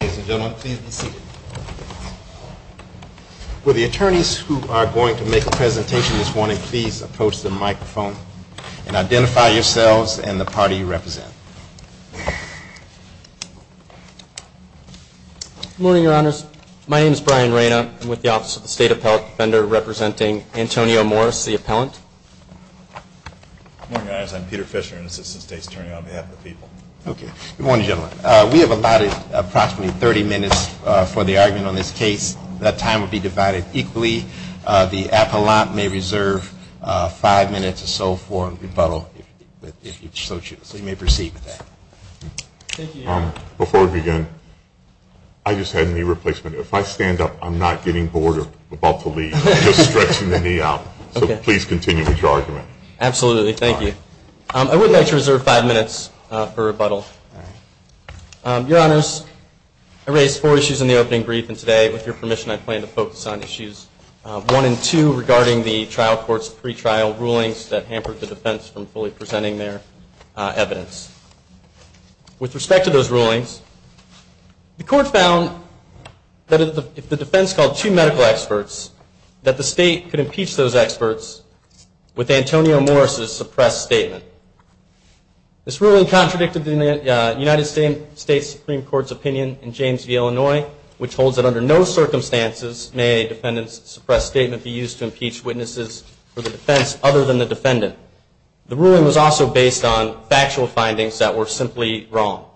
Good morning, your honors. My name is Brian Reyna. I'm with the Office of the State Appellate Defender, representing Antonio Morris, the appellant. Good morning, your honors. I'm Peter Fisher, an assistant state attorney on behalf of the people. Okay. Good morning, gentlemen. We have allotted approximately 30 minutes for the argument on this case. That time will be divided equally. The appellant may reserve five minutes or so for rebuttal, if you so choose. So you may proceed with that. Thank you, your honor. Before we begin, I just had a knee replacement. If I stand up, I'm not getting bored or about to leave. I'm just stretching the knee out. So please continue with your argument. Absolutely. Thank you. I would like to reserve five minutes for rebuttal. All right. Your honors, I raised four issues in the opening brief, and today, with your permission, I plan to focus on issues one and two regarding the trial court's pretrial rulings that hampered the defense from fully presenting their evidence. With respect to those rulings, the court found that if the defense called two medical experts that the state could impeach those experts with Antonio Morris' suppressed statement. This ruling contradicted the United States Supreme Court's opinion in James v. Illinois, which holds that under no circumstances may a defendant's suppressed statement be used to impeach witnesses for the defense other than the defendant. The ruling was also based on factual findings that were simply wrong.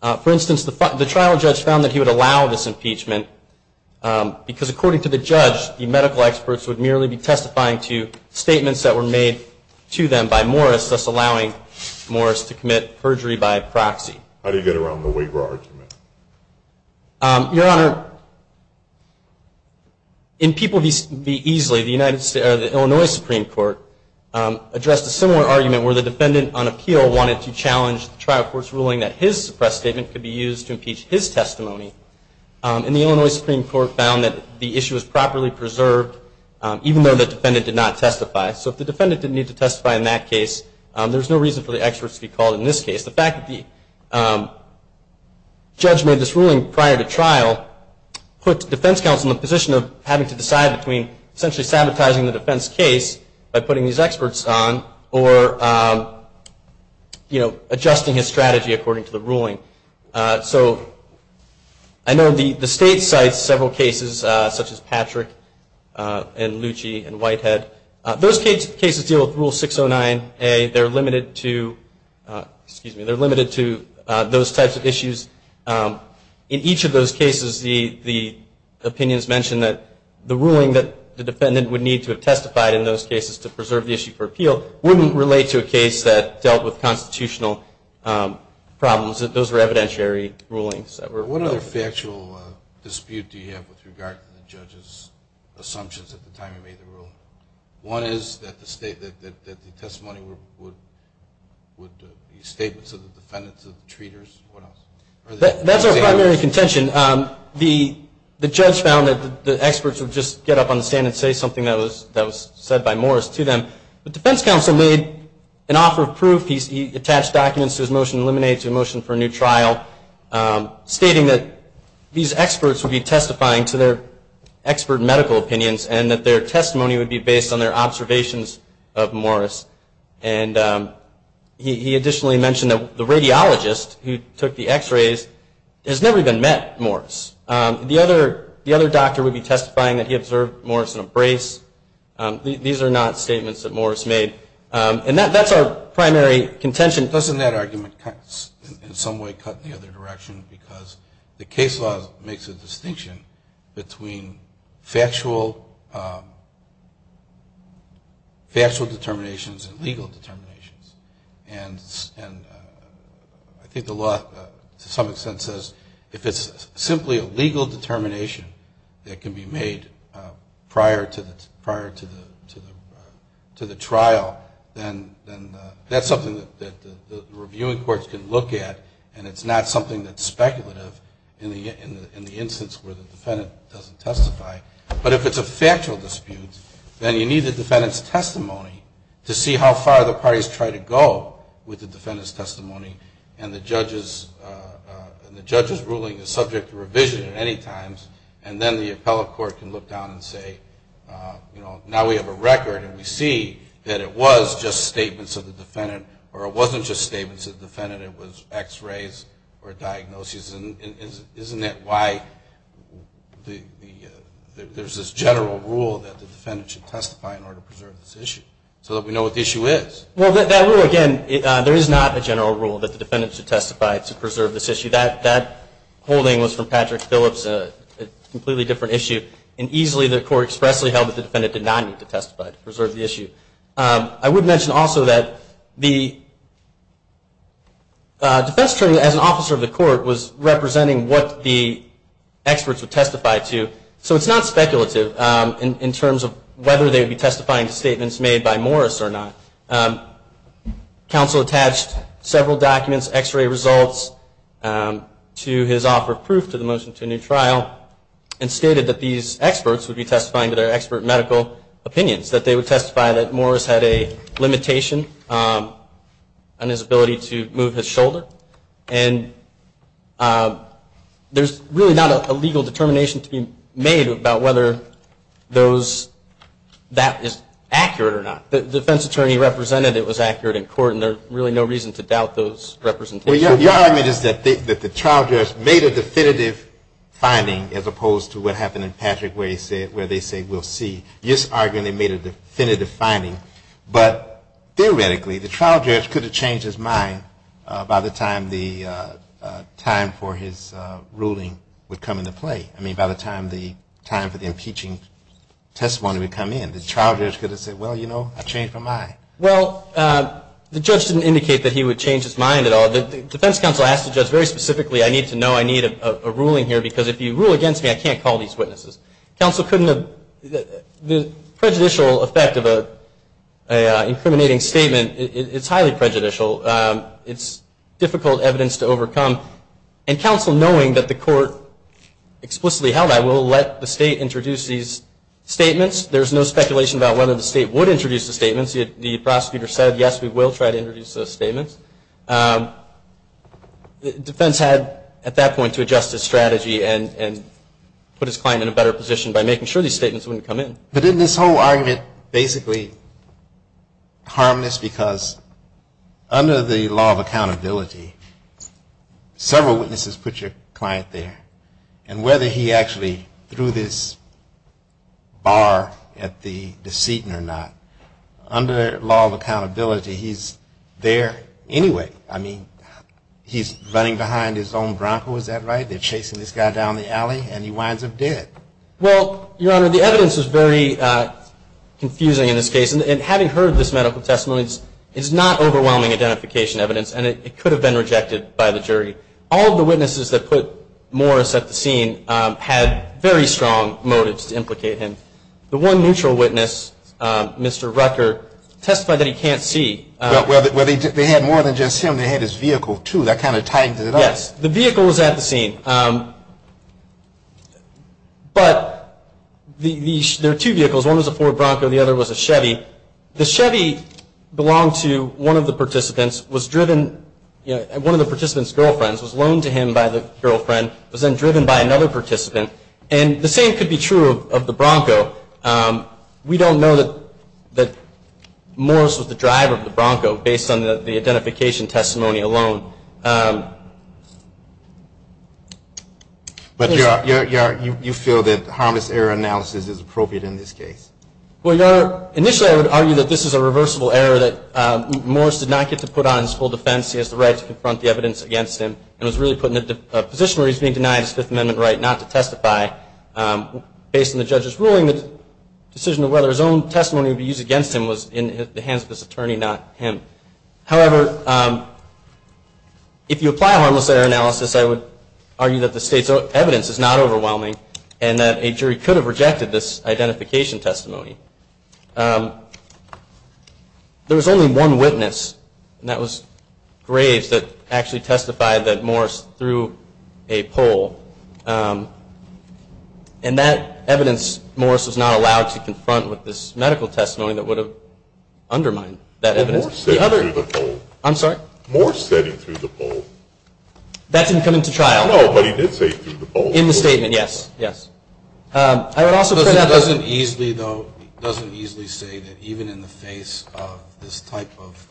For instance, the trial judge found that he would allow this impeachment, because according to the judge, the medical experts would merely be testifying to statements that were made to them by Morris, thus allowing Morris to commit perjury by proxy. How do you get around the Waver argument? Your honor, in People v. Easley, the Illinois Supreme Court addressed a similar argument where the defendant on appeal wanted to challenge the trial court's ruling that his suppressed statement could be used to impeach his testimony, and the Illinois Supreme Court found that the issue was properly preserved, even though the defendant did not testify. So if the defendant didn't need to testify in that case, there's no reason for the experts to be called in this case. The fact that the judge made this ruling prior to trial puts defense counsel in the position of having to decide between essentially sabotaging the defense case by putting these experts on, or adjusting his strategy according to the ruling. So I know the state cites several cases, such as Patrick and Lucci and Whitehead. Those cases deal with Rule 609A. They're limited to those types of issues. In each of those cases, the opinions mention that the ruling that the defendant would need to have testified in those cases to preserve the issue for appeal wouldn't relate to a case that dealt with constitutional problems. Those were evidentiary rulings. What other factual dispute do you have with regard to the judge's assumptions at the time he made the ruling? One is that the testimony would be statements of the defendant to the treaters. That's our primary contention. The judge found that the experts would just get up on the stand and say something that was said by Morris to them. The defense counsel made an offer of proof. He attached documents to his motion to eliminate, to a motion for a new trial, stating that these experts would be testifying to their expert medical opinions, and that their testimony would be based on their observations of Morris. And he additionally mentioned that the radiologist who took the x-rays has never even met Morris. The other doctor would be testifying that he observed Morris in a brace. These are not statements that Morris made. And that's our primary contention. Doesn't that argument in some way cut in the other direction because the case law makes a distinction between factual determinations and legal determinations. And I think the law, to some extent, says if it's simply a legal determination that can be made prior to the trial, then that's something that the reviewing courts can look at, and it's not something that's speculative in the instance where the defendant doesn't testify. But if it's a factual dispute, then you need the defendant's testimony to see how far the parties try to go with the defendant's testimony. And the judge's ruling is subject to revision at any time, and then the appellate court can look down and say, you know, now we have a record and we see that it was just statements of the defendant, or it wasn't just statements of the defendant, it was x-rays or diagnoses. And isn't that why there's this general rule that the defendant should testify in order to preserve this issue, so that we know what the issue is? Well, that rule, again, there is not a general rule that the defendant should testify to preserve this issue. That holding was from Patrick Phillips, a completely different issue, and easily the court expressly held that the defendant did not need to testify to preserve the issue. I would mention also that the defense attorney, as an officer of the court, was representing what the experts would testify to. So it's not speculative in terms of whether they would be testifying to statements made by Morris or not. Counsel attached several documents, x-ray results, to his offer of proof to the motion to a new trial, and stated that these experts would be testifying to their expert medical opinions, that they would testify that Morris had a limitation on his ability to move his shoulder. And there's really not a legal determination to be made about whether that is accurate or not. The defense attorney represented it was accurate in court, and there's really no reason to doubt those representations. Well, your argument is that the trial judge made a definitive finding as opposed to what you're arguing they made a definitive finding. But theoretically, the trial judge could have changed his mind by the time the time for his ruling would come into play. I mean, by the time the time for the impeaching testimony would come in. The trial judge could have said, well, you know, I changed my mind. Well, the judge didn't indicate that he would change his mind at all. The defense counsel asked the judge very specifically, I need to know, I need a ruling here, because if you rule against me, I can't call these witnesses. Counsel couldn't have, the prejudicial effect of an incriminating statement, it's highly prejudicial. It's difficult evidence to overcome. And counsel knowing that the court explicitly held, I will let the state introduce these statements. There's no speculation about whether the state would introduce the statements. Defense had at that point to adjust its strategy and put his client in a better position by making sure these statements wouldn't come in. But didn't this whole argument basically harm this? Because under the law of accountability, several witnesses put your client there. And whether he actually threw this bar at the deceit or not, under law of accountability, he's there anyway. I mean, he's running behind his own Bronco, is that right? They're chasing this guy down the alley, and he winds up dead. Well, Your Honor, the evidence is very confusing in this case. And having heard this medical testimony, it's not overwhelming identification evidence, and it could have been rejected by the jury. All of the witnesses that put Morris at the scene had very strong motives to implicate him. The one neutral witness, Mr. Rucker, testified that he can't see. Well, they had more than just him. They had his vehicle, too. That kind of tied it up. Yes. The vehicle was at the scene. But there are two vehicles. One was a Ford Bronco. The other was a Chevy. The Chevy belonged to one of the participants, was driven by one of the participant's girlfriends, was loaned to him by the girlfriend, was then driven by another participant. And the same could be true of the Bronco. We don't know that Morris was the driver of the Bronco based on the identification testimony alone. But you feel that harmless error analysis is appropriate in this case? Well, Your Honor, initially I would argue that this is a reversible error, that Morris did not get to put on his full defense. He has the right to confront the evidence against him, and was really put in a position where he's being denied his Fifth Amendment right not to testify. Based on the judge's ruling, the decision of whether his own testimony would be used against him was in the hands of his attorney, not him. However, if you apply harmless error analysis, I would argue that the State's evidence is not overwhelming and that a jury could have rejected this identification testimony. There was only one witness, and that was Graves, that actually testified that Morris threw a pole. And that evidence, Morris was not allowed to confront with this medical testimony that would have undermined that evidence. Morris said he threw the pole. I'm sorry? Morris said he threw the pole. That didn't come into trial. No, but he did say he threw the pole. In the statement, yes, yes. It doesn't easily, though, it doesn't easily say that even in the face of this type of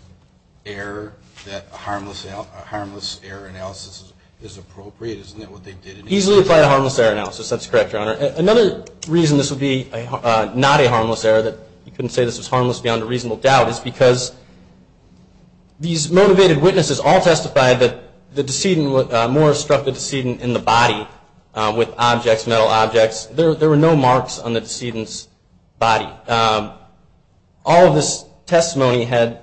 error, that a harmless error analysis is appropriate. Isn't that what they did in each case? Easily applied a harmless error analysis. That's correct, Your Honor. Another reason this would be not a harmless error, that you couldn't say this was harmless beyond a reasonable doubt, is because these motivated witnesses all testified that Morris struck the decedent in the body with objects, there were no marks on the decedent's body. All of this testimony had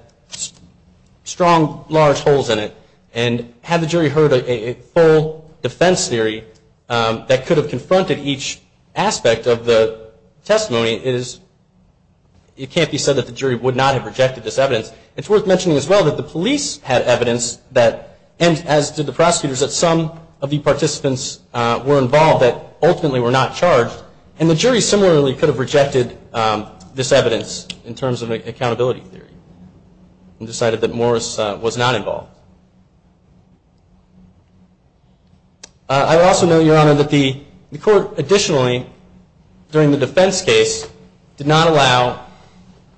strong, large holes in it, and had the jury heard a full defense theory that could have confronted each aspect of the testimony, it can't be said that the jury would not have rejected this evidence. It's worth mentioning as well that the police had evidence, and as did the prosecutors, that some of the participants were involved that ultimately were not charged, and the jury similarly could have rejected this evidence in terms of an accountability theory, and decided that Morris was not involved. I also know, Your Honor, that the court additionally, during the defense case, did not allow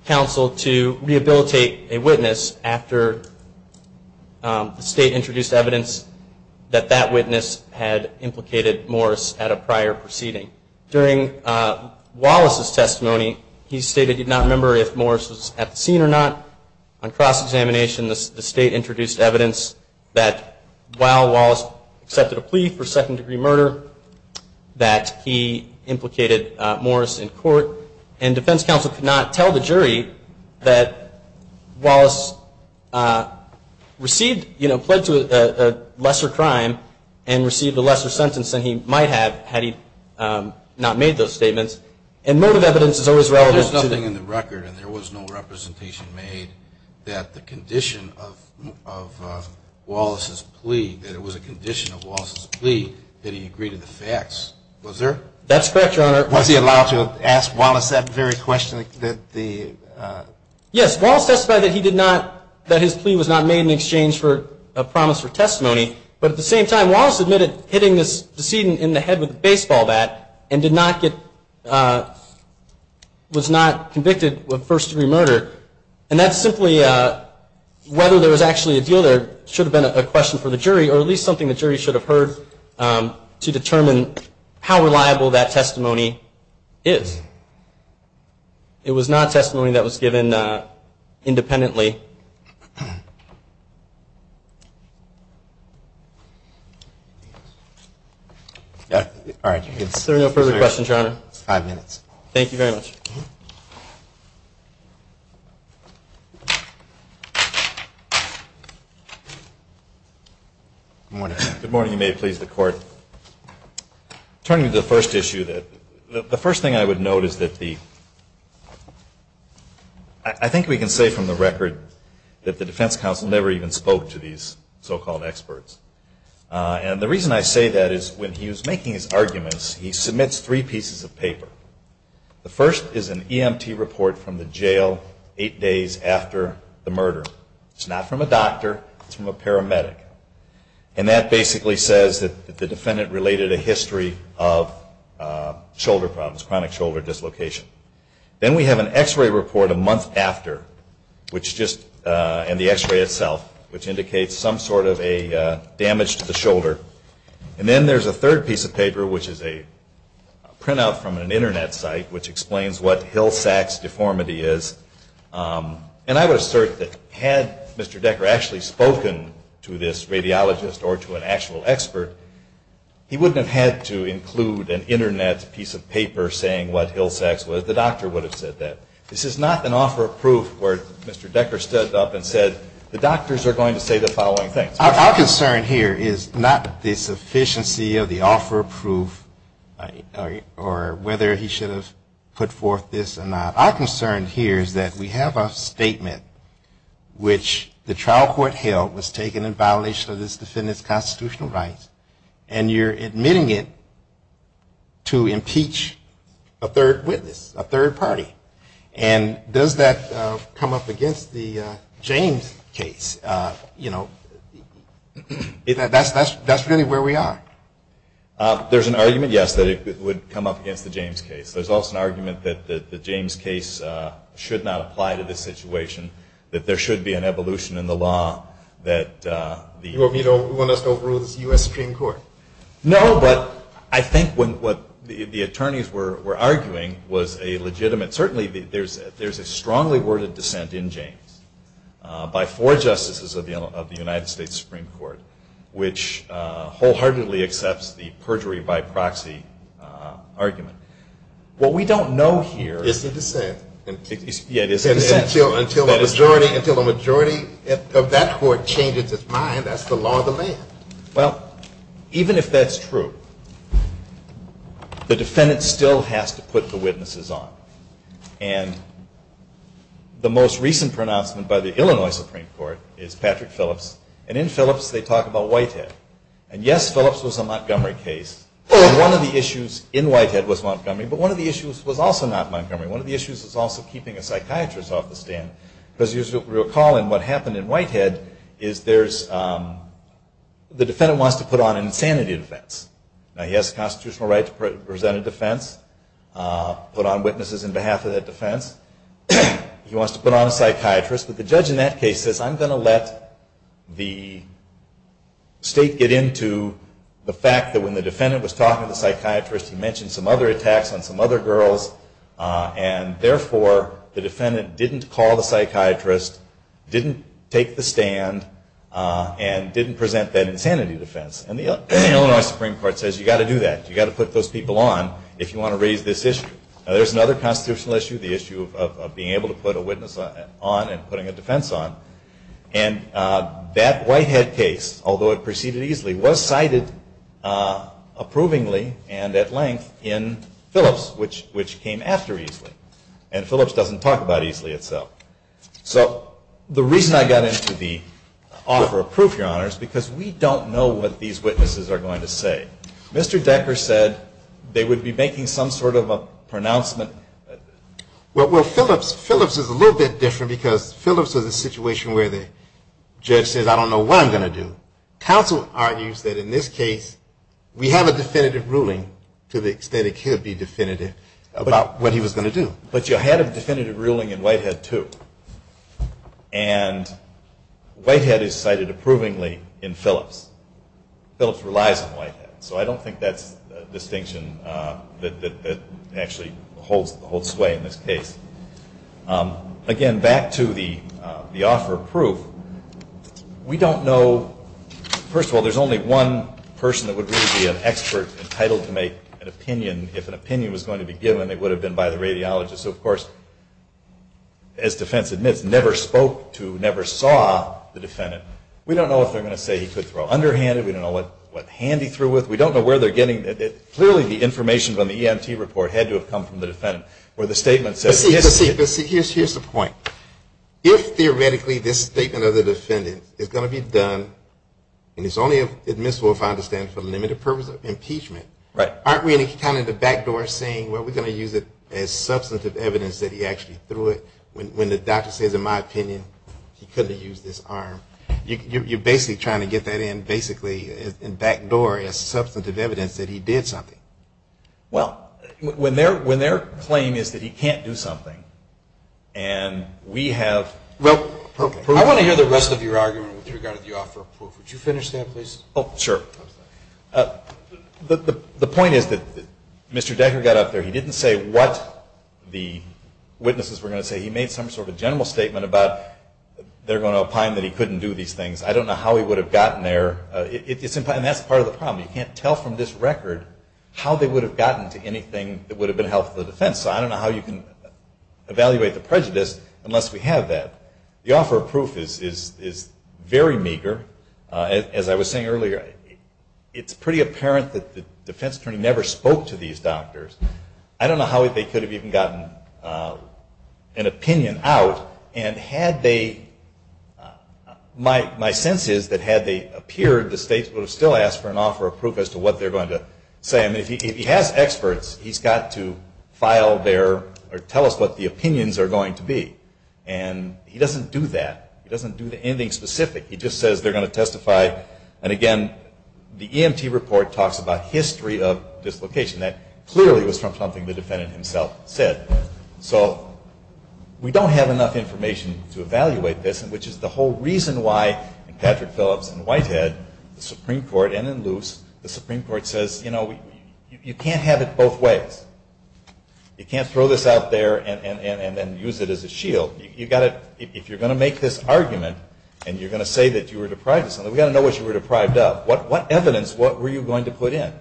counsel to rehabilitate a witness after the state introduced evidence that that witness had implicated Morris at a prior proceeding. During Wallace's testimony, he stated he did not remember if Morris was at the scene or not. On cross-examination, the state introduced evidence that while Wallace accepted a plea for second-degree murder, that he implicated Morris in court, and defense counsel could not tell the jury that Wallace received, you know, pled to a lesser crime and received a lesser sentence than he might have had he not made those statements. And motive evidence is always relevant. There's nothing in the record, and there was no representation made, that the condition of Wallace's plea, that it was a condition of Wallace's plea that he agree to the facts. Was there? That's correct, Your Honor. Was he allowed to ask Wallace that very question? Yes, Wallace testified that he did not, that his plea was not made in exchange for a promise for testimony, but at the same time, Wallace admitted hitting this decedent in the head with a baseball bat, and did not get, was not convicted of first-degree murder. And that's simply whether there was actually a deal there should have been a question for the jury, or at least something the jury should have heard to determine how reliable that testimony is. It was not testimony that was given independently. All right. Is there no further questions, Your Honor? Five minutes. Thank you very much. Good morning. Good morning. You may please the Court. Turning to the first issue, the first thing I would note is that the, I think we can say from the record that the defense counsel never even spoke to these so-called experts. And the reason I say that is when he was making his arguments, he submits three pieces of paper. The first is an EMT report from the jail eight days after the murder. It's not from a doctor. It's from a paramedic. And that basically says that the defendant related a history of shoulder problems, chronic shoulder dislocation. Then we have an X-ray report a month after, which just, and the X-ray itself, which indicates some sort of a damage to the shoulder. And then there's a third piece of paper, which is a printout from an Internet site, which explains what Hill Sachs deformity is. And I would assert that had Mr. Decker actually spoken to this radiologist or to an actual expert, he wouldn't have had to include an Internet piece of paper saying what Hill Sachs was. The doctor would have said that. This is not an offer of proof where Mr. Decker stood up and said the doctors are going to say the following things. Our concern here is not the sufficiency of the offer of proof or whether he should have put forth this or not. Our concern here is that we have a statement which the trial court held was taken in violation of this defendant's constitutional rights, and you're admitting it to impeach a third witness, a third party. And does that come up against the James case? That's really where we are. There's an argument, yes, that it would come up against the James case. There's also an argument that the James case should not apply to this situation, that there should be an evolution in the law. You want us to overrule the U.S. Supreme Court? No, but I think what the attorneys were arguing was a legitimate, certainly there's a strongly worded dissent in James by four justices of the United States Supreme Court, which wholeheartedly accepts the perjury by proxy argument. What we don't know here is the dissent. Until a majority of that court changes its mind, that's the law of the land. Well, even if that's true, the defendant still has to put the witnesses on. And the most recent pronouncement by the Illinois Supreme Court is Patrick Phillips, and in Phillips they talk about Whitehead. And yes, Phillips was a Montgomery case, and one of the issues in Whitehead was Montgomery, but one of the issues was also not Montgomery. One of the issues was also keeping a psychiatrist off the stand, because as you recall in what happened in Whitehead, the defendant wants to put on an insanity defense. Now, he has a constitutional right to present a defense, put on witnesses on behalf of that defense. He wants to put on a psychiatrist, but the judge in that case says, I'm going to let the state get into the fact that when the defendant was talking to the psychiatrist, he mentioned some other attacks on some other girls, and therefore the defendant didn't call the psychiatrist, didn't take the stand, and didn't present that insanity defense. And the Illinois Supreme Court says you've got to do that. You've got to put those people on if you want to raise this issue. Now, there's another constitutional issue, the issue of being able to put a witness on and putting a defense on. And that Whitehead case, although it proceeded easily, was cited approvingly and at length in Phillips, which came after Easley. And Phillips doesn't talk about Easley itself. So the reason I got into the offer of proof, Your Honors, because we don't know what these witnesses are going to say. Mr. Decker said they would be making some sort of a pronouncement. Well, Phillips is a little bit different because Phillips is a situation where the judge says, I don't know what I'm going to do. Counsel argues that in this case we have a definitive ruling to the extent it could be definitive about what he was going to do. But you had a definitive ruling in Whitehead, too. And Whitehead is cited approvingly in Phillips. Phillips relies on Whitehead. So I don't think that's a distinction that actually holds sway in this case. Again, back to the offer of proof, we don't know. First of all, there's only one person that would really be an expert entitled to make an opinion. If an opinion was going to be given, it would have been by the radiologist. So, of course, as defense admits, never spoke to, never saw the defendant. We don't know if they're going to say he could throw underhanded. We don't know what hand he threw with. We don't know where they're getting. Clearly the information on the EMT report had to have come from the defendant. But see, here's the point. If theoretically this statement of the defendant is going to be done, and it's only admissible if I understand from limited purpose of impeachment, aren't we kind of in the back door saying, well, we're going to use it as substantive evidence that he actually threw it when the doctor says, in my opinion, he couldn't have used this arm? You're basically trying to get that in, basically, in back door as substantive evidence that he did something. Well, when their claim is that he can't do something, and we have... Well, I want to hear the rest of your argument with regard to the offer of proof. Would you finish that, please? Oh, sure. The point is that Mr. Decker got up there. He didn't say what the witnesses were going to say. He made some sort of general statement about they're going to opine that he couldn't do these things. I don't know how he would have gotten there. And that's part of the problem. You can't tell from this record how they would have gotten to anything that would have been helpful to the defense. So I don't know how you can evaluate the prejudice unless we have that. The offer of proof is very meager. As I was saying earlier, it's pretty apparent that the defense attorney never spoke to these doctors. I don't know how they could have even gotten an opinion out. And had they... My sense is that had they appeared, the states would have still asked for an offer of proof as to what they're going to say. I mean, if he has experts, he's got to file their or tell us what the opinions are going to be. And he doesn't do that. He doesn't do anything specific. He just says they're going to testify. And again, the EMT report talks about history of dislocation. That clearly was from something the defendant himself said. So we don't have enough information to evaluate this, which is the whole reason why in Patrick Phillips and Whitehead, the Supreme Court, and in Luce, the Supreme Court says, you know, you can't have it both ways. You can't throw this out there and then use it as a shield. You've got to... If you're going to make this argument and you're going to say that you were deprived of something, we've got to know what you were deprived of. What evidence were you going to put in?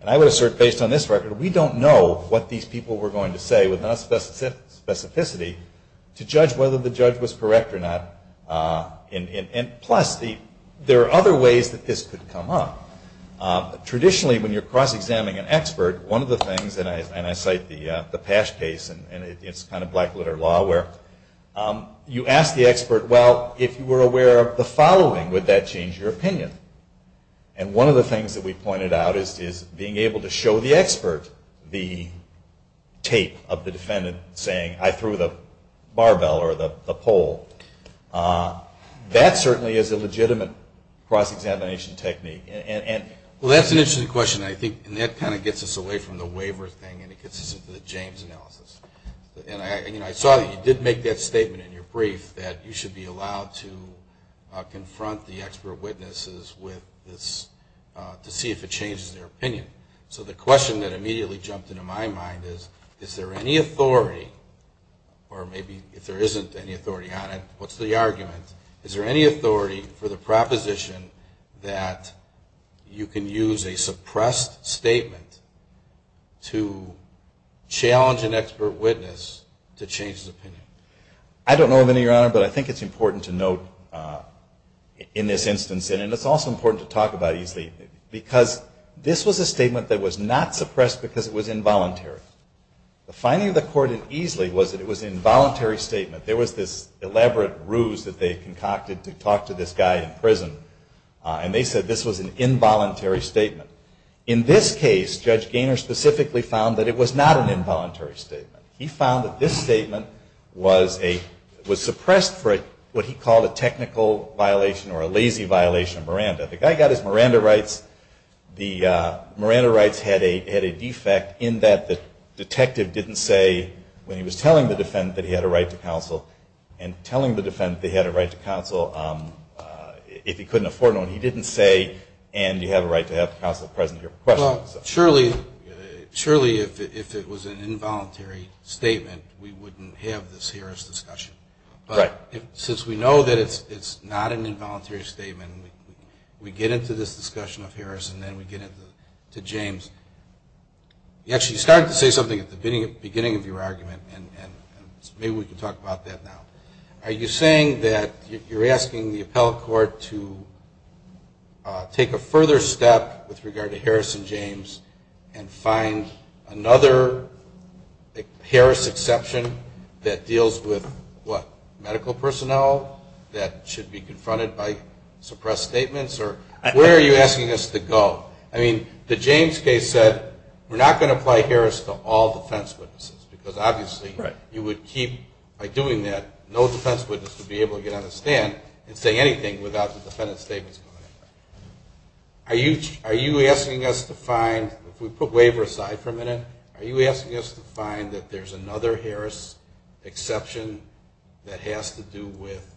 And I would assert, based on this record, we don't know what these people were going to say with enough specificity to judge whether the judge was correct or not. And plus, there are other ways that this could come up. Traditionally, when you're cross-examining an expert, one of the things, and I cite the Pash case, and it's kind of black-litter law, where you ask the expert, well, if you were aware of the following, would that change your opinion? And one of the things that we pointed out is being able to show the expert the tape of the defendant saying, I threw the barbell or the pole. That certainly is a legitimate cross-examination technique. Well, that's an interesting question, and I think that kind of gets us away from the waiver thing and it gets us into the James analysis. And I saw that you did make that statement in your brief, that you should be allowed to confront the expert witnesses to see if it changes their opinion. So the question that immediately jumped into my mind is, is there any authority, or maybe if there isn't any authority on it, what's the argument? Is there any authority for the proposition that you can use a suppressed statement I don't know of any, Your Honor, but I think it's important to note in this instance, and it's also important to talk about Eesley, because this was a statement that was not suppressed because it was involuntary. The finding of the court in Eesley was that it was an involuntary statement. There was this elaborate ruse that they concocted to talk to this guy in prison, and they said this was an involuntary statement. In this case, Judge Gaynor specifically found that it was not an involuntary statement. He found that this statement was suppressed for what he called a technical violation or a lazy violation of Miranda. The guy got his Miranda rights. The Miranda rights had a defect in that the detective didn't say, when he was telling the defendant that he had a right to counsel, and telling the defendant that he had a right to counsel, if he couldn't afford one, he didn't say, and you have a right to have counsel present here for questioning. Well, surely if it was an involuntary statement, we wouldn't have this Harris discussion. But since we know that it's not an involuntary statement, we get into this discussion of Harris, and then we get into James. You actually started to say something at the beginning of your argument, and maybe we can talk about that now. Are you saying that you're asking the appellate court to take a further step with regard to Harris and James and find another Harris exception that deals with, what, medical personnel that should be confronted by suppressed statements, or where are you asking us to go? I mean, the James case said we're not going to apply Harris to all defense witnesses, because obviously you would keep, by doing that, no defense witness would be able to get on the stand and say anything without the defendant's statements. Are you asking us to find, if we put waiver aside for a minute, are you asking us to find that there's another Harris exception that has to do with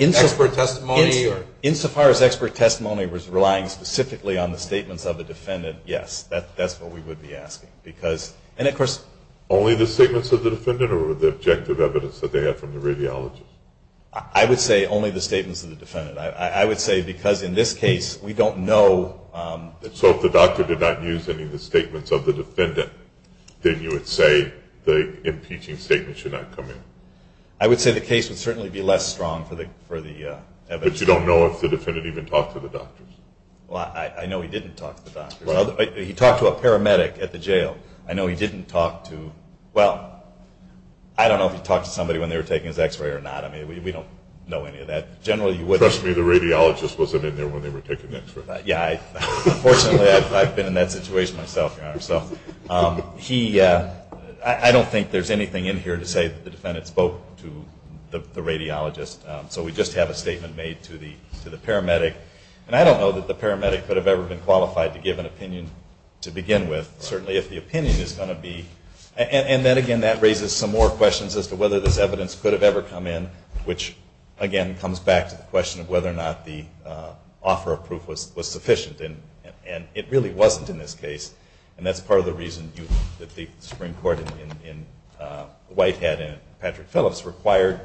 expert testimony? Insofar as expert testimony was relying specifically on the statements of the defendant, yes. That's what we would be asking. Only the statements of the defendant, or the objective evidence that they have from the radiologist? I would say only the statements of the defendant. I would say, because in this case, we don't know. So if the doctor did not use any of the statements of the defendant, then you would say the impeaching statement should not come in? I would say the case would certainly be less strong for the evidence. But you don't know if the defendant even talked to the doctors? Well, I know he didn't talk to the doctors. He talked to a paramedic at the jail. I know he didn't talk to, well, I don't know if he talked to somebody when they were taking his x-ray or not. I mean, we don't know any of that. Trust me, the radiologist wasn't in there when they were taking the x-ray. Yeah. Unfortunately, I've been in that situation myself, Your Honor. So I don't think there's anything in here to say that the defendant spoke to the radiologist. So we just have a statement made to the paramedic. And I don't know that the paramedic could have ever been qualified to give an opinion to begin with, certainly if the opinion is going to be. And then, again, that raises some more questions as to whether this evidence could have ever come in, which, again, comes back to the question of whether or not the offer of proof was sufficient. And it really wasn't in this case. And that's part of the reason that the Supreme Court in Whitehead and Patrick Phillips required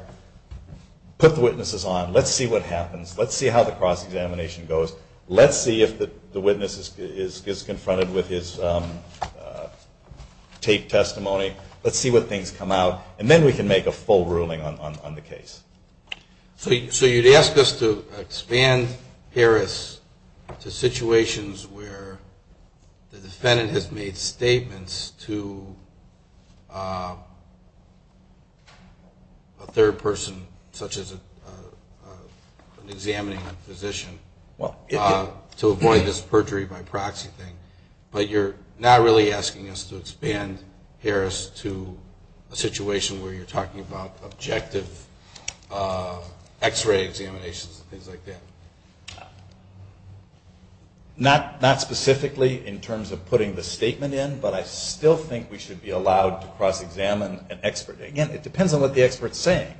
put the witnesses on. Let's see what happens. Let's see how the cross-examination goes. Let's see if the witness is confronted with his taped testimony. Let's see what things come out. And then we can make a full ruling on the case. So you'd ask us to expand Harris to situations where the defendant has made statements to a third person, such as examining a physician, to avoid this perjury by proxy thing. But you're not really asking us to expand Harris to a situation where you're talking about objective X-ray examinations and things like that. Not specifically in terms of putting the statement in, but I still think we should be allowed to cross-examine an expert. Again, it depends on what the expert is saying.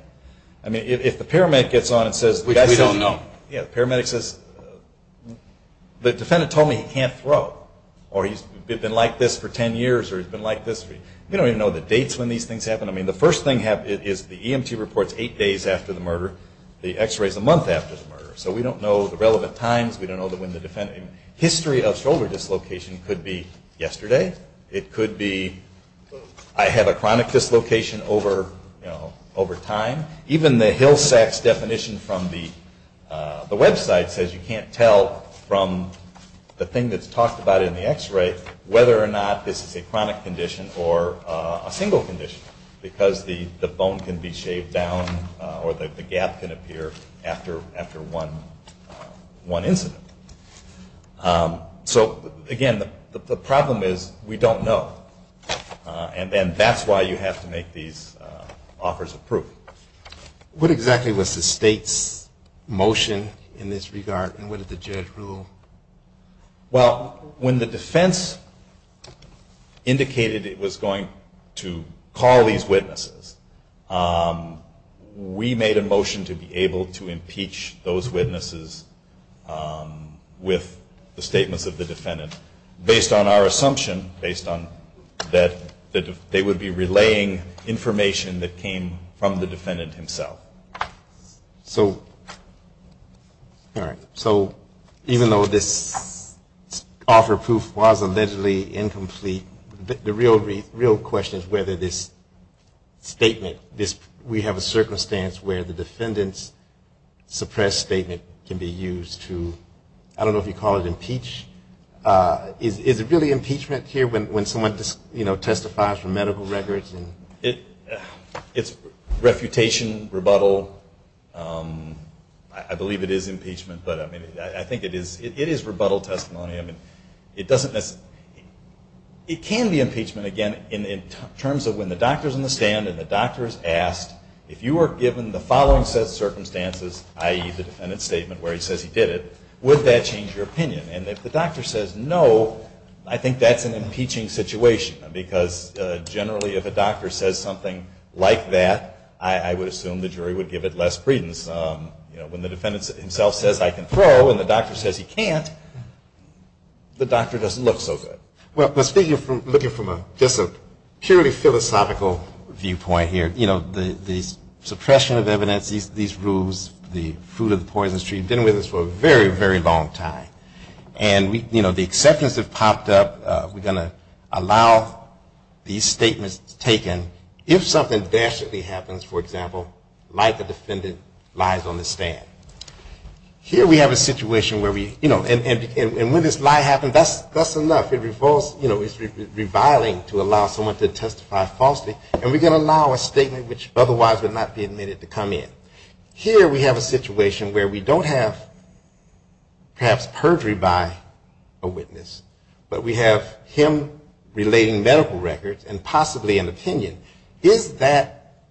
I mean, if the paramedic gets on and says, Which we don't know. Yeah, the paramedic says, The defendant told me he can't throw. Or he's been like this for ten years. Or he's been like this. We don't even know the dates when these things happen. I mean, the first thing is the EMT reports eight days after the murder. The X-ray is a month after the murder. So we don't know the relevant times. We don't know when the defendant. History of shoulder dislocation could be yesterday. It could be I have a chronic dislocation over time. Even the Hillsex definition from the website says you can't tell from the thing that's talked about in the X-ray whether or not this is a chronic condition or a single condition because the bone can be shaved down or the gap can appear after one incident. So, again, the problem is we don't know. And then that's why you have to make these offers of proof. What exactly was the state's motion in this regard, and what did the judge rule? Well, when the defense indicated it was going to call these witnesses, we made a motion to be able to impeach those witnesses with the statements of the defendant. Based on our assumption, based on that they would be relaying information that came from the defendant himself. So, even though this offer of proof was allegedly incomplete, the real question is whether this statement, we have a circumstance where the defendant's suppressed statement can be used to, I don't know if you call it impeach, is it really impeachment here when someone testifies for medical records? It's refutation, rebuttal. I believe it is impeachment, but I think it is rebuttal testimony. It can be impeachment, again, in terms of when the doctor is on the stand and the doctor is asked if you are given the following set of circumstances, i.e., the defendant's statement where he says he did it, would that change your opinion? And if the doctor says no, I think that's an impeaching situation because generally if a doctor says something like that, I would assume the jury would give it less credence. You know, when the defendant himself says I can throw and the doctor says he can't, the doctor doesn't look so good. Well, speaking from, looking from just a purely philosophical viewpoint here, you know, the suppression of evidence, these rules, the fruit of the poison tree have been with us for a very, very long time. And, you know, the exceptions have popped up. We're going to allow these statements taken if something dastardly happens, for example, like a defendant lies on the stand. Here we have a situation where we, you know, and when this lie happens, that's enough. You know, it's reviling to allow someone to testify falsely, and we're going to allow a statement which otherwise would not be admitted to come in. Here we have a situation where we don't have perhaps perjury by a witness, but we have him relating medical records and possibly an opinion. Is that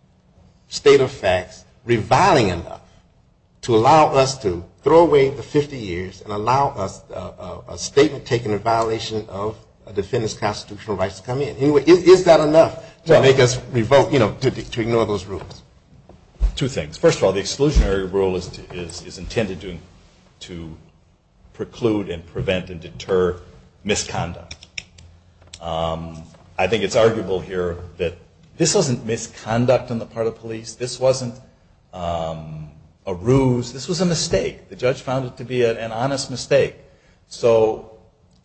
state of facts reviling enough to allow us to throw away the 50 years and allow a statement taken in violation of a defendant's constitutional rights to come in? Is that enough to make us revoke, you know, to ignore those rules? Two things. First of all, the exclusionary rule is intended to preclude and prevent and deter misconduct. I think it's arguable here that this wasn't misconduct on the part of police. This wasn't a ruse. This was a mistake. The judge found it to be an honest mistake. Well,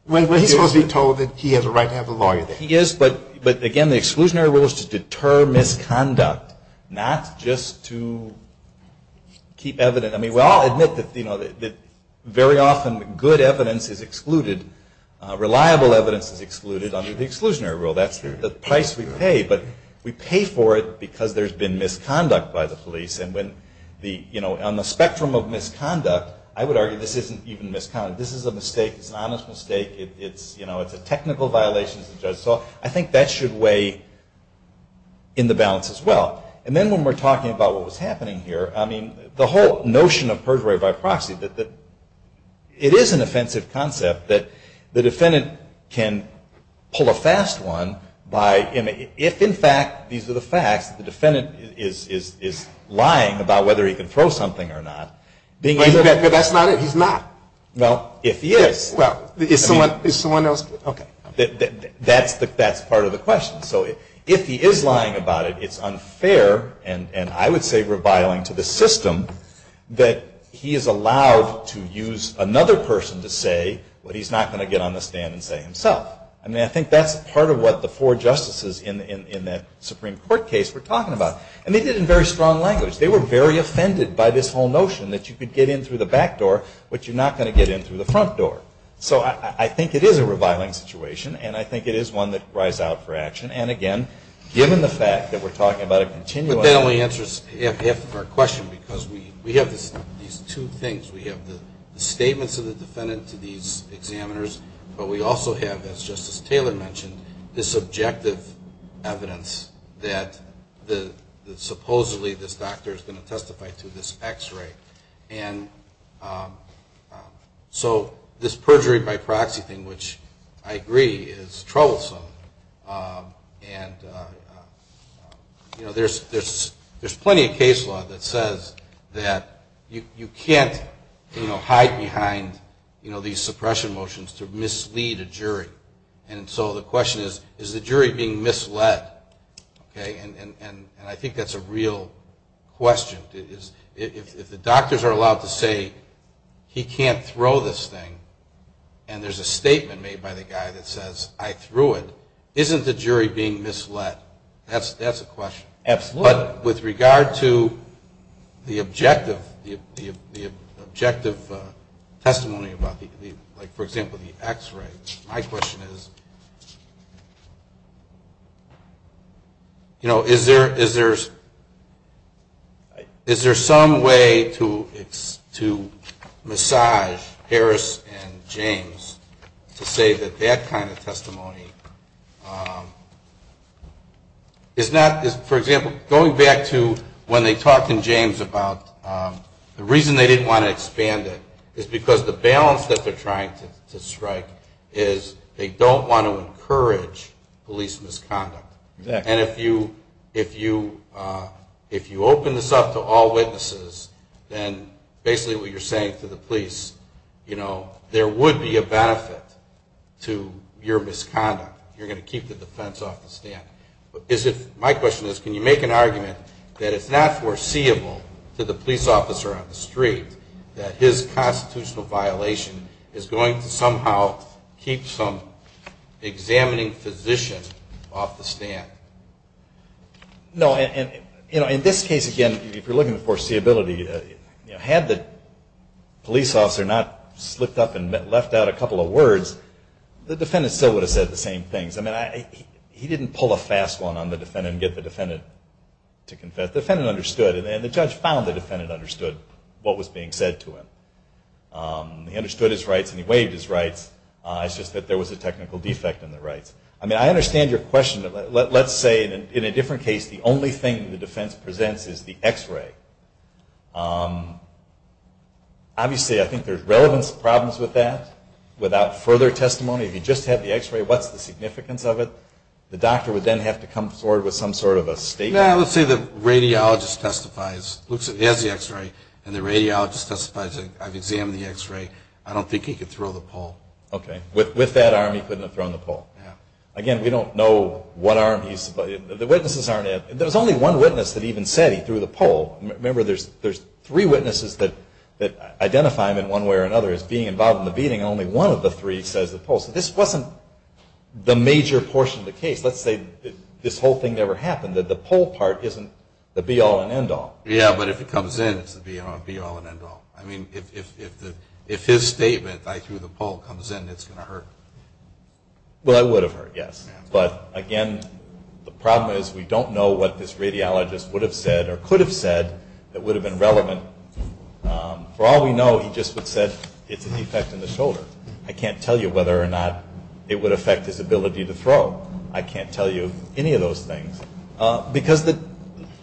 he's supposed to be told that he has a right to have a lawyer there. Yes, he is, but again, the exclusionary rule is to deter misconduct, not just to keep evidence. I mean, we all admit that very often good evidence is excluded, reliable evidence is excluded under the exclusionary rule. That's the price we pay, but we pay for it because there's been misconduct by the police, and on the spectrum of misconduct, I would argue this isn't even misconduct. This is a mistake. It's an honest mistake. It's a technical violation as the judge saw. I think that should weigh in the balance as well. And then when we're talking about what was happening here, I mean, the whole notion of perjury by proxy, it is an offensive concept that the defendant can pull a fast one by, if in fact these are the facts, the defendant is lying about whether he can throw something or not. But that's not it. He's not. Well, if he is. Well, is someone else? Okay. That's part of the question. So if he is lying about it, it's unfair, and I would say reviling to the system, that he is allowed to use another person to say what he's not going to get on the stand and say himself. I mean, I think that's part of what the four justices in that Supreme Court case were talking about. And they did it in very strong language. They were very offended by this whole notion that you could get in through the back door, but you're not going to get in through the front door. So I think it is a reviling situation, and I think it is one that cries out for action. And, again, given the fact that we're talking about a continuum. But that only answers half of our question, because we have these two things. We have the statements of the defendant to these examiners, but we also have, as Justice Taylor mentioned, the subjective evidence that supposedly this doctor is going to testify to this X-ray. And so this perjury by proxy thing, which I agree is troublesome, and there's plenty of case law that says that you can't hide behind these suppression motions to mislead a jury. And so the question is, is the jury being misled? And I think that's a real question. If the doctors are allowed to say he can't throw this thing and there's a statement made by the guy that says, I threw it, isn't the jury being misled? That's a question. Absolutely. But with regard to the objective testimony about, like, for example, the X-ray, my question is, you know, is there some way to massage Harris and James to say that that kind of testimony is not, for example, going back to when they talked in James about the reason they didn't want to expand it is because the balance that they're trying to strike is they don't want to encourage police misconduct. And if you open this up to all witnesses, then basically what you're saying to the police, you know, there would be a benefit to your misconduct. You're going to keep the defense off the stand. My question is, can you make an argument that it's not foreseeable to the police officer on the street that his constitutional violation is going to somehow keep some examining physician off the stand? No, and, you know, in this case, again, if you're looking at foreseeability, had the police officer not slipped up and left out a couple of words, the defendant still would have said the same things. I mean, he didn't pull a fast one on the defendant and get the defendant to confess. But the defendant understood, and the judge found the defendant understood what was being said to him. He understood his rights and he waived his rights. It's just that there was a technical defect in the rights. I mean, I understand your question. Let's say, in a different case, the only thing the defense presents is the X-ray. Obviously, I think there's relevance problems with that. Without further testimony, if you just have the X-ray, what's the significance of it? The doctor would then have to come forward with some sort of a statement. Let's say the radiologist testifies. He has the X-ray, and the radiologist testifies, I've examined the X-ray. I don't think he could throw the pole. Okay. With that arm, he couldn't have thrown the pole. Again, we don't know what arm he's – the witnesses aren't – there's only one witness that even said he threw the pole. Remember, there's three witnesses that identify him in one way or another as being involved in the beating, and only one of the three says the pole. So this wasn't the major portion of the case. Let's say this whole thing never happened. The pole part isn't the be-all and end-all. Yeah, but if it comes in, it's the be-all and end-all. I mean, if his statement, I threw the pole, comes in, it's going to hurt. Well, it would have hurt, yes. But, again, the problem is we don't know what this radiologist would have said or could have said that would have been relevant. For all we know, he just would have said, it's a defect in the shoulder. I can't tell you whether or not it would affect his ability to throw. I can't tell you any of those things. Because the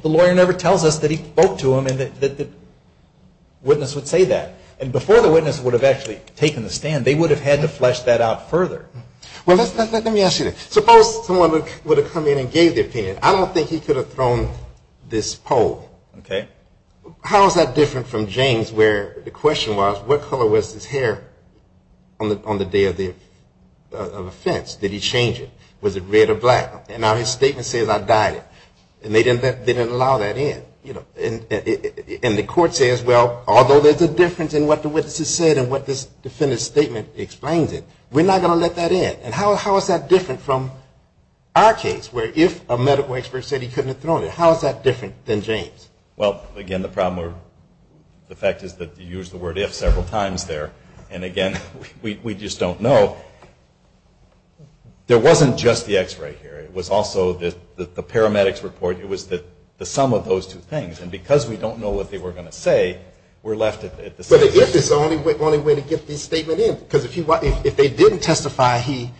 lawyer never tells us that he spoke to him and that the witness would say that. And before the witness would have actually taken the stand, they would have had to flesh that out further. Well, let me ask you this. Suppose someone would have come in and gave the opinion. I don't think he could have thrown this pole. Okay. How is that different from James where the question was, what color was his hair on the day of the offense? Did he change it? Was it red or black? And now his statement says, I dyed it. And they didn't allow that in. And the court says, well, although there's a difference in what the witness has said and what this defendant's statement explains it, we're not going to let that in. And how is that different from our case where if a medical expert said he couldn't have thrown it, how is that different than James? Well, again, the problem or the fact is that you used the word if several times there. And, again, we just don't know. There wasn't just the x-ray here. It was also the paramedics report. It was the sum of those two things. And because we don't know what they were going to say, we're left at the same place. But the if is the only way to get this statement in. Because if they didn't testify he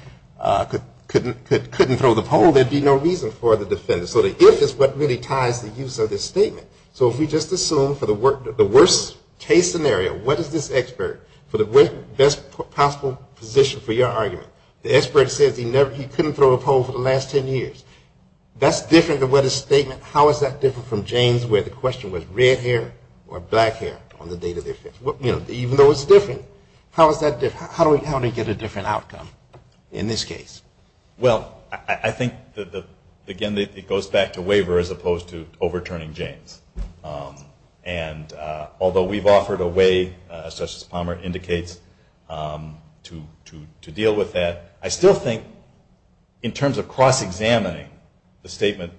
couldn't throw the pole, there would be no reason for the defendant. So the if is what really ties the use of this statement. So if we just assume for the worst case scenario, what is this expert, for the best possible position for your argument, the expert says he couldn't throw a pole for the last 10 years, that's different than what his statement, how is that different from James where the question was red hair or black hair on the date of the offense? Even though it's different, how is that different? How do we get a different outcome in this case? Well, I think, again, it goes back to waiver as opposed to overturning James. And although we've offered a way, as Justice Palmer indicates, to deal with that, I still think in terms of cross-examining the statement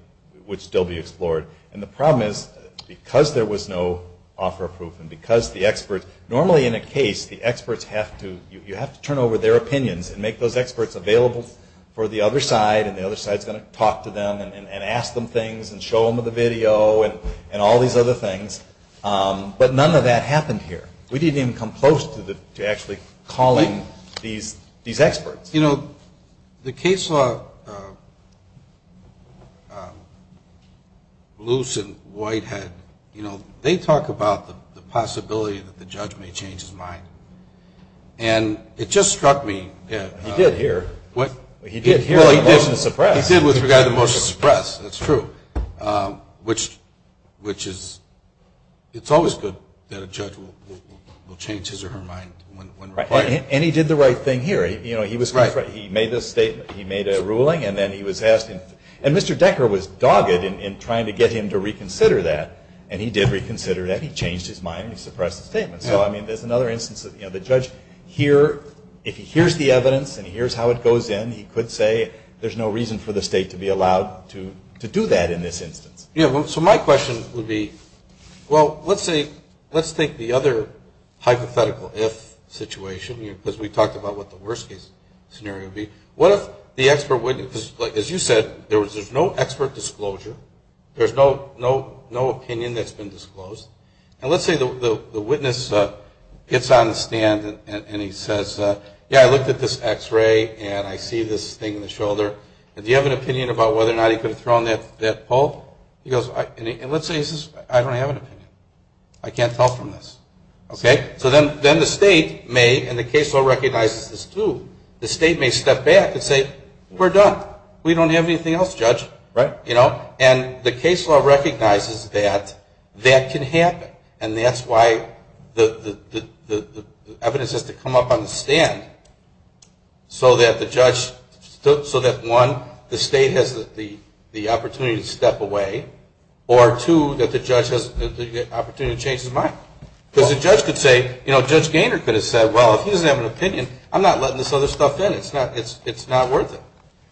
would still be explored. And the problem is because there was no offer of proof and because the experts, normally in a case, the experts have to, you have to turn over their opinions and make those experts available for the other side and the other side is going to talk to them and ask them things and show them the video and all these other things. But none of that happened here. We didn't even come close to actually calling these experts. You know, the case law loose and white head, you know, they talk about the possibility that the judge may change his mind. And it just struck me. He did here. He did hear the motion to suppress. He did with regard to the motion to suppress, that's true, which is, it's always good that a judge will change his or her mind when required. And he did the right thing here. You know, he was, he made this statement, he made a ruling, and then he was asked, and Mr. Decker was dogged in trying to get him to reconsider that. And he did reconsider that. He changed his mind and he suppressed the statement. So, I mean, there's another instance of, you know, the judge here, if he hears the evidence and he hears how it goes in, he could say, there's no reason for the state to be allowed to do that in this instance. Yeah, so my question would be, well, let's say, let's take the other hypothetical if situation, because we talked about what the worst case scenario would be. What if the expert, as you said, there's no expert disclosure. There's no opinion that's been disclosed. And let's say the witness gets on the stand and he says, yeah, I looked at this X-ray and I see this thing in the shoulder. Do you have an opinion about whether or not he could have thrown that pole? He goes, and let's say he says, I don't have an opinion. I can't tell from this. Okay? So then the state may, and the case law recognizes this too, the state may step back and say, we're done. We don't have anything else judged. Right. You know? And the case law recognizes that that can happen. And that's why the evidence has to come up on the stand so that the judge, so that, one, the state has the opportunity to step away, or, two, that the judge has the opportunity to change his mind. Because the judge could say, you know, Judge Gaynor could have said, well, if he doesn't have an opinion, I'm not letting this other stuff in. It's not worth it.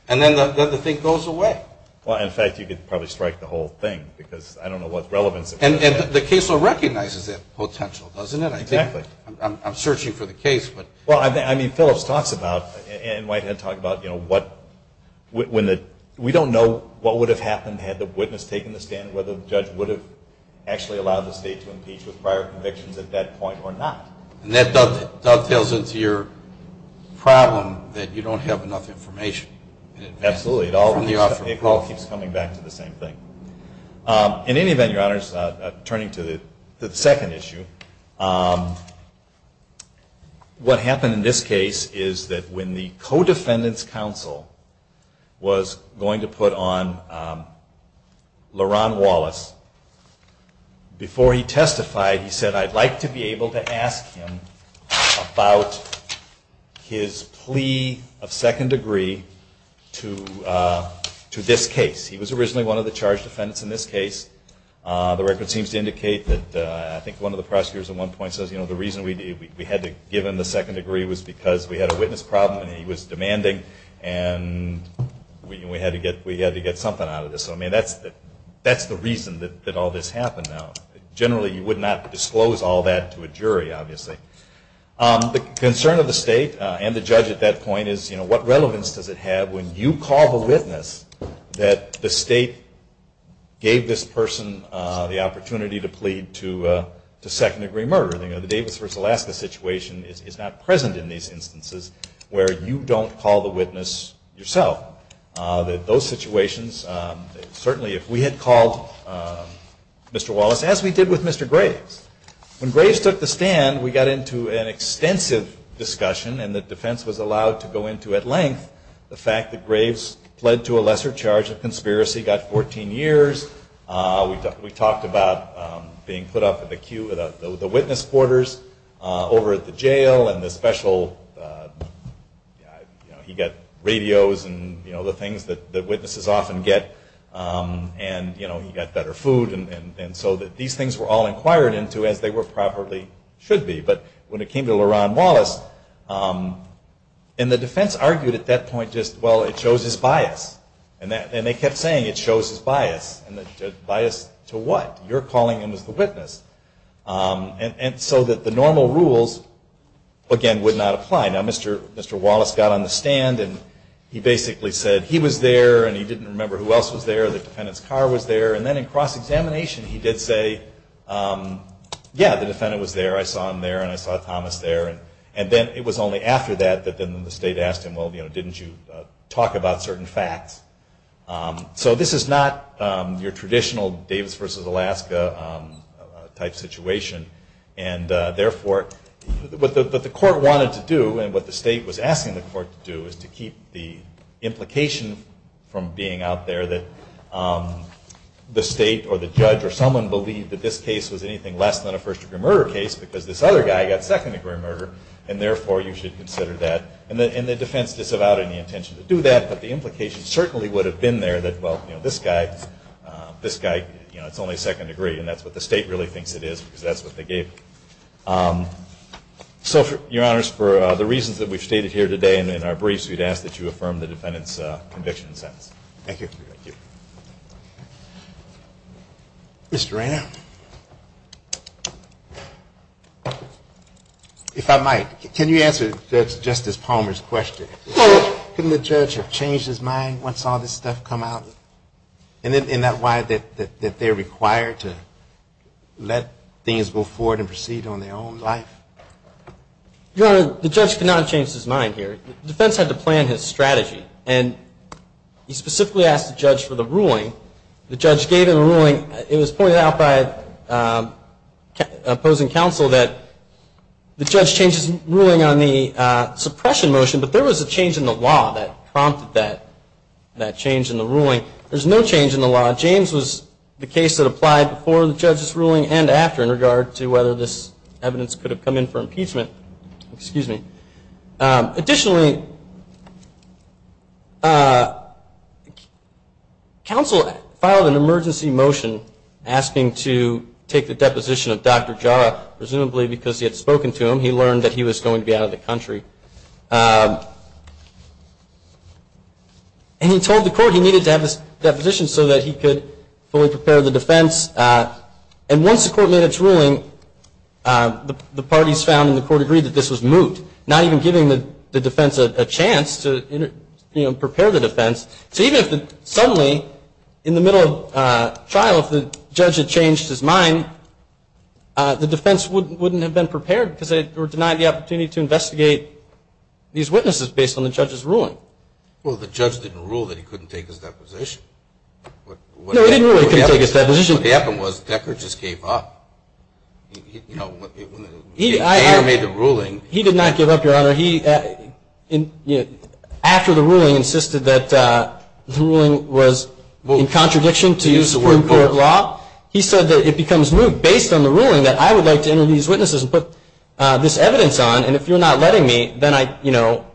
And then the thing goes away. Well, in fact, you could probably strike the whole thing, because I don't know what relevance it has. And the case law recognizes that potential, doesn't it? Exactly. I'm searching for the case, but. Well, I mean, Phillips talks about, and Whitehead talked about, you know, we don't know what would have happened had the witness taken the stand, whether the judge would have actually allowed the state to impeach with prior convictions at that point or not. And that dovetails into your problem that you don't have enough information. Absolutely. It all keeps coming back to the same thing. In any event, Your Honors, turning to the second issue, what happened in this case is that when the co-defendant's counsel was going to put on Laron Wallace, before he testified, he said, I'd like to be able to ask him about his plea of second degree to this case. He was originally one of the charged defendants in this case. The record seems to indicate that, I think, one of the prosecutors at one point says, you know, the reason we had to give him the second degree was because we had a witness problem and he was demanding, and we had to get something out of this. So, I mean, that's the reason that all this happened now. Generally, you would not disclose all that to a jury, obviously. The concern of the state and the judge at that point is, you know, what relevance does it have when you call the witness that the state gave this person the opportunity to plead to second degree murder? You know, the Davis v. Alaska situation is not present in these instances where you don't call the witness yourself. Those situations, certainly if we had called Mr. Wallace, as we did with Mr. Graves, when Graves took the stand, we got into an extensive discussion and the defense was allowed to go into at length the fact that Graves pled to a lesser charge of conspiracy, got 14 years. We talked about being put up at the witness quarters over at the jail and the special, you know, he got radios and, you know, the things that witnesses often get. And, you know, he got better food. And so these things were all inquired into as they probably should be. But when it came to Leron Wallace, and the defense argued at that point just, well, it shows his bias. And they kept saying it shows his bias. And the bias to what? You're calling him as the witness. And so that the normal rules, again, would not apply. Now, Mr. Wallace got on the stand and he basically said he was there and he didn't remember who else was there. The defendant's car was there. And then in cross-examination he did say, yeah, the defendant was there. I saw him there and I saw Thomas there. And then it was only after that that then the state asked him, well, didn't you talk about certain facts? So this is not your traditional Davis v. Alaska type situation. And, therefore, what the court wanted to do and what the state was asking the court to do is to keep the implication from being out there that the state or the judge or someone believed that this case was anything less than a first-degree murder case because this other guy got second-degree murder. And, therefore, you should consider that. And the defense disavowed any intention to do that. But the implication certainly would have been there that, well, you know, this guy, you know, it's only second-degree. And that's what the state really thinks it is because that's what they gave him. So, Your Honors, for the reasons that we've stated here today and in our briefs, we'd ask that you affirm the defendant's conviction and sentence. Thank you. Thank you. Mr. Reyna? If I might. Can you answer Justice Palmer's question? Couldn't the judge have changed his mind once all this stuff come out? Isn't that why they're required to let things go forward and proceed on their own life? Your Honor, the judge could not have changed his mind here. The defense had to plan his strategy. And he specifically asked the judge for the ruling. The judge gave him a ruling. It was pointed out by opposing counsel that the judge changed his ruling on the suppression motion, but there was a change in the law that prompted that change in the ruling. There's no change in the law. James was the case that applied before the judge's ruling and after in regard to whether this evidence could have come in for impeachment. Additionally, counsel filed an emergency motion asking to take the deposition of Dr. Jara. Presumably because he had spoken to him, he learned that he was going to be out of the country. And he told the court he needed to have his deposition so that he could fully prepare the defense. And once the court made its ruling, the parties found and the court agreed that this was moot, not even giving the defense a chance to prepare the defense. So even if suddenly in the middle of trial if the judge had changed his mind, the defense wouldn't have been prepared because they were denied the opportunity to investigate these witnesses based on the judge's ruling. Well, the judge didn't rule that he couldn't take his deposition. No, he didn't rule he couldn't take his deposition. What happened was Decker just gave up. You know, Decker made the ruling. He did not give up, Your Honor. After the ruling insisted that the ruling was in contradiction to support court law, he said that it becomes moot based on the ruling that I would like to interview these witnesses and put this evidence on, and if you're not letting me, then I, you know,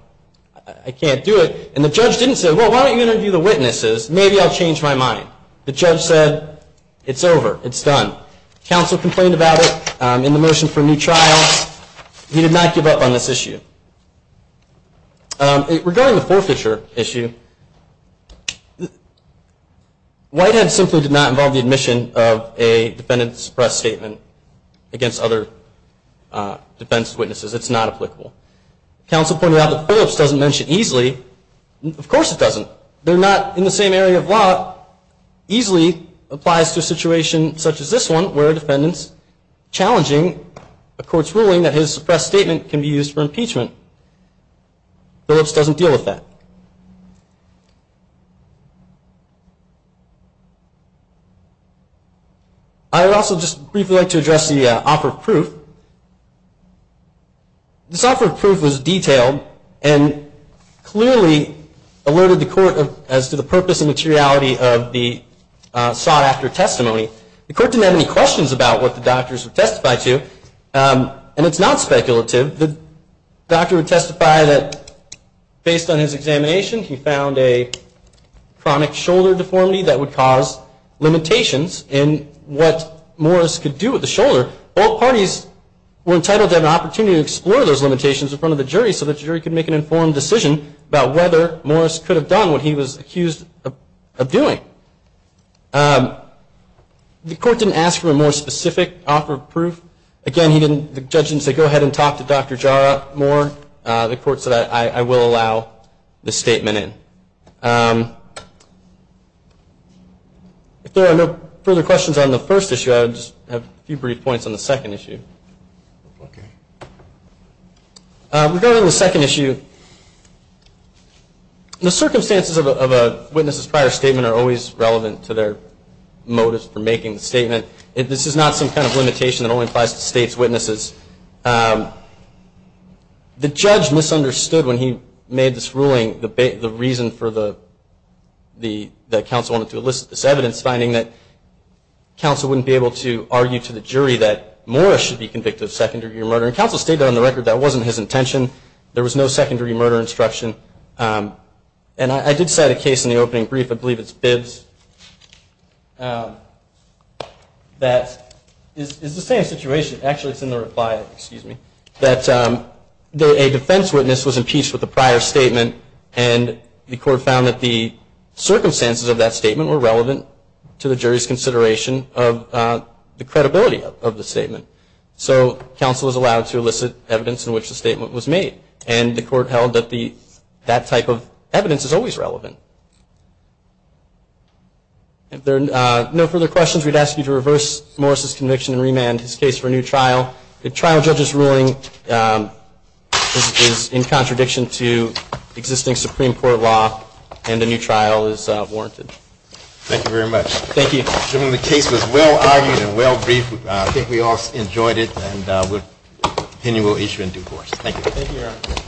I can't do it. And the judge didn't say, well, why don't you interview the witnesses? Maybe I'll change my mind. The judge said, it's over. It's done. Counsel complained about it in the motion for a new trial. He did not give up on this issue. Regarding the forfeiture issue, Whitehead simply did not involve the admission of a defendant's press statement against other defense witnesses. It's not applicable. Counsel pointed out that Phillips doesn't mention easily. Of course it doesn't. They're not in the same area of law. Easily applies to a situation such as this one where a defendant's challenging a court's ruling that his press statement can be used for impeachment. Phillips doesn't deal with that. I would also just briefly like to address the offer of proof. The offer of proof was detailed and clearly alerted the court as to the purpose and materiality of the sought-after testimony. The court didn't have any questions about what the doctors would testify to, and it's not speculative. The doctor would testify that, based on his examination, he found a chronic shoulder deformity that would cause limitations in what Morris could do with the shoulder. Both parties were entitled to have an opportunity to explore those limitations in front of the jury so the jury could make an informed decision about whether Morris could have done what he was accused of doing. The court didn't ask for a more specific offer of proof. Again, the judge didn't say, go ahead and talk to Dr. Jara more. The court said, I will allow the statement in. If there are no further questions on the first issue, I would just have a few brief points on the second issue. Regarding the second issue, the circumstances of a witness's prior statement are always relevant to their motives for making the statement. This is not some kind of limitation that only applies to state's witnesses. The judge misunderstood when he made this ruling the reason for the counsel wanting to elicit this evidence, finding that counsel wouldn't be able to argue to the jury that Morris should be convicted of secondary murder. Counsel stated on the record that wasn't his intention. There was no secondary murder instruction. I did cite a case in the opening brief, I believe it's Bibb's, that is the same situation. Actually, it's in the reply, excuse me, that a defense witness was impeached with a prior statement and the court found that the circumstances of that statement were relevant to the jury's consideration of the credibility of the statement. So counsel was allowed to elicit evidence in which the statement was made, and the court held that that type of evidence is always relevant. If there are no further questions, we'd ask you to reverse Morris' conviction and remand his case for a new trial. The trial judge's ruling is in contradiction to existing Supreme Court law, and a new trial is warranted. Thank you very much. Thank you. The case was well-argued and well-briefed. I think we all enjoyed it, and we'll continue to issue in due course. Thank you. Thank you, Your Honor.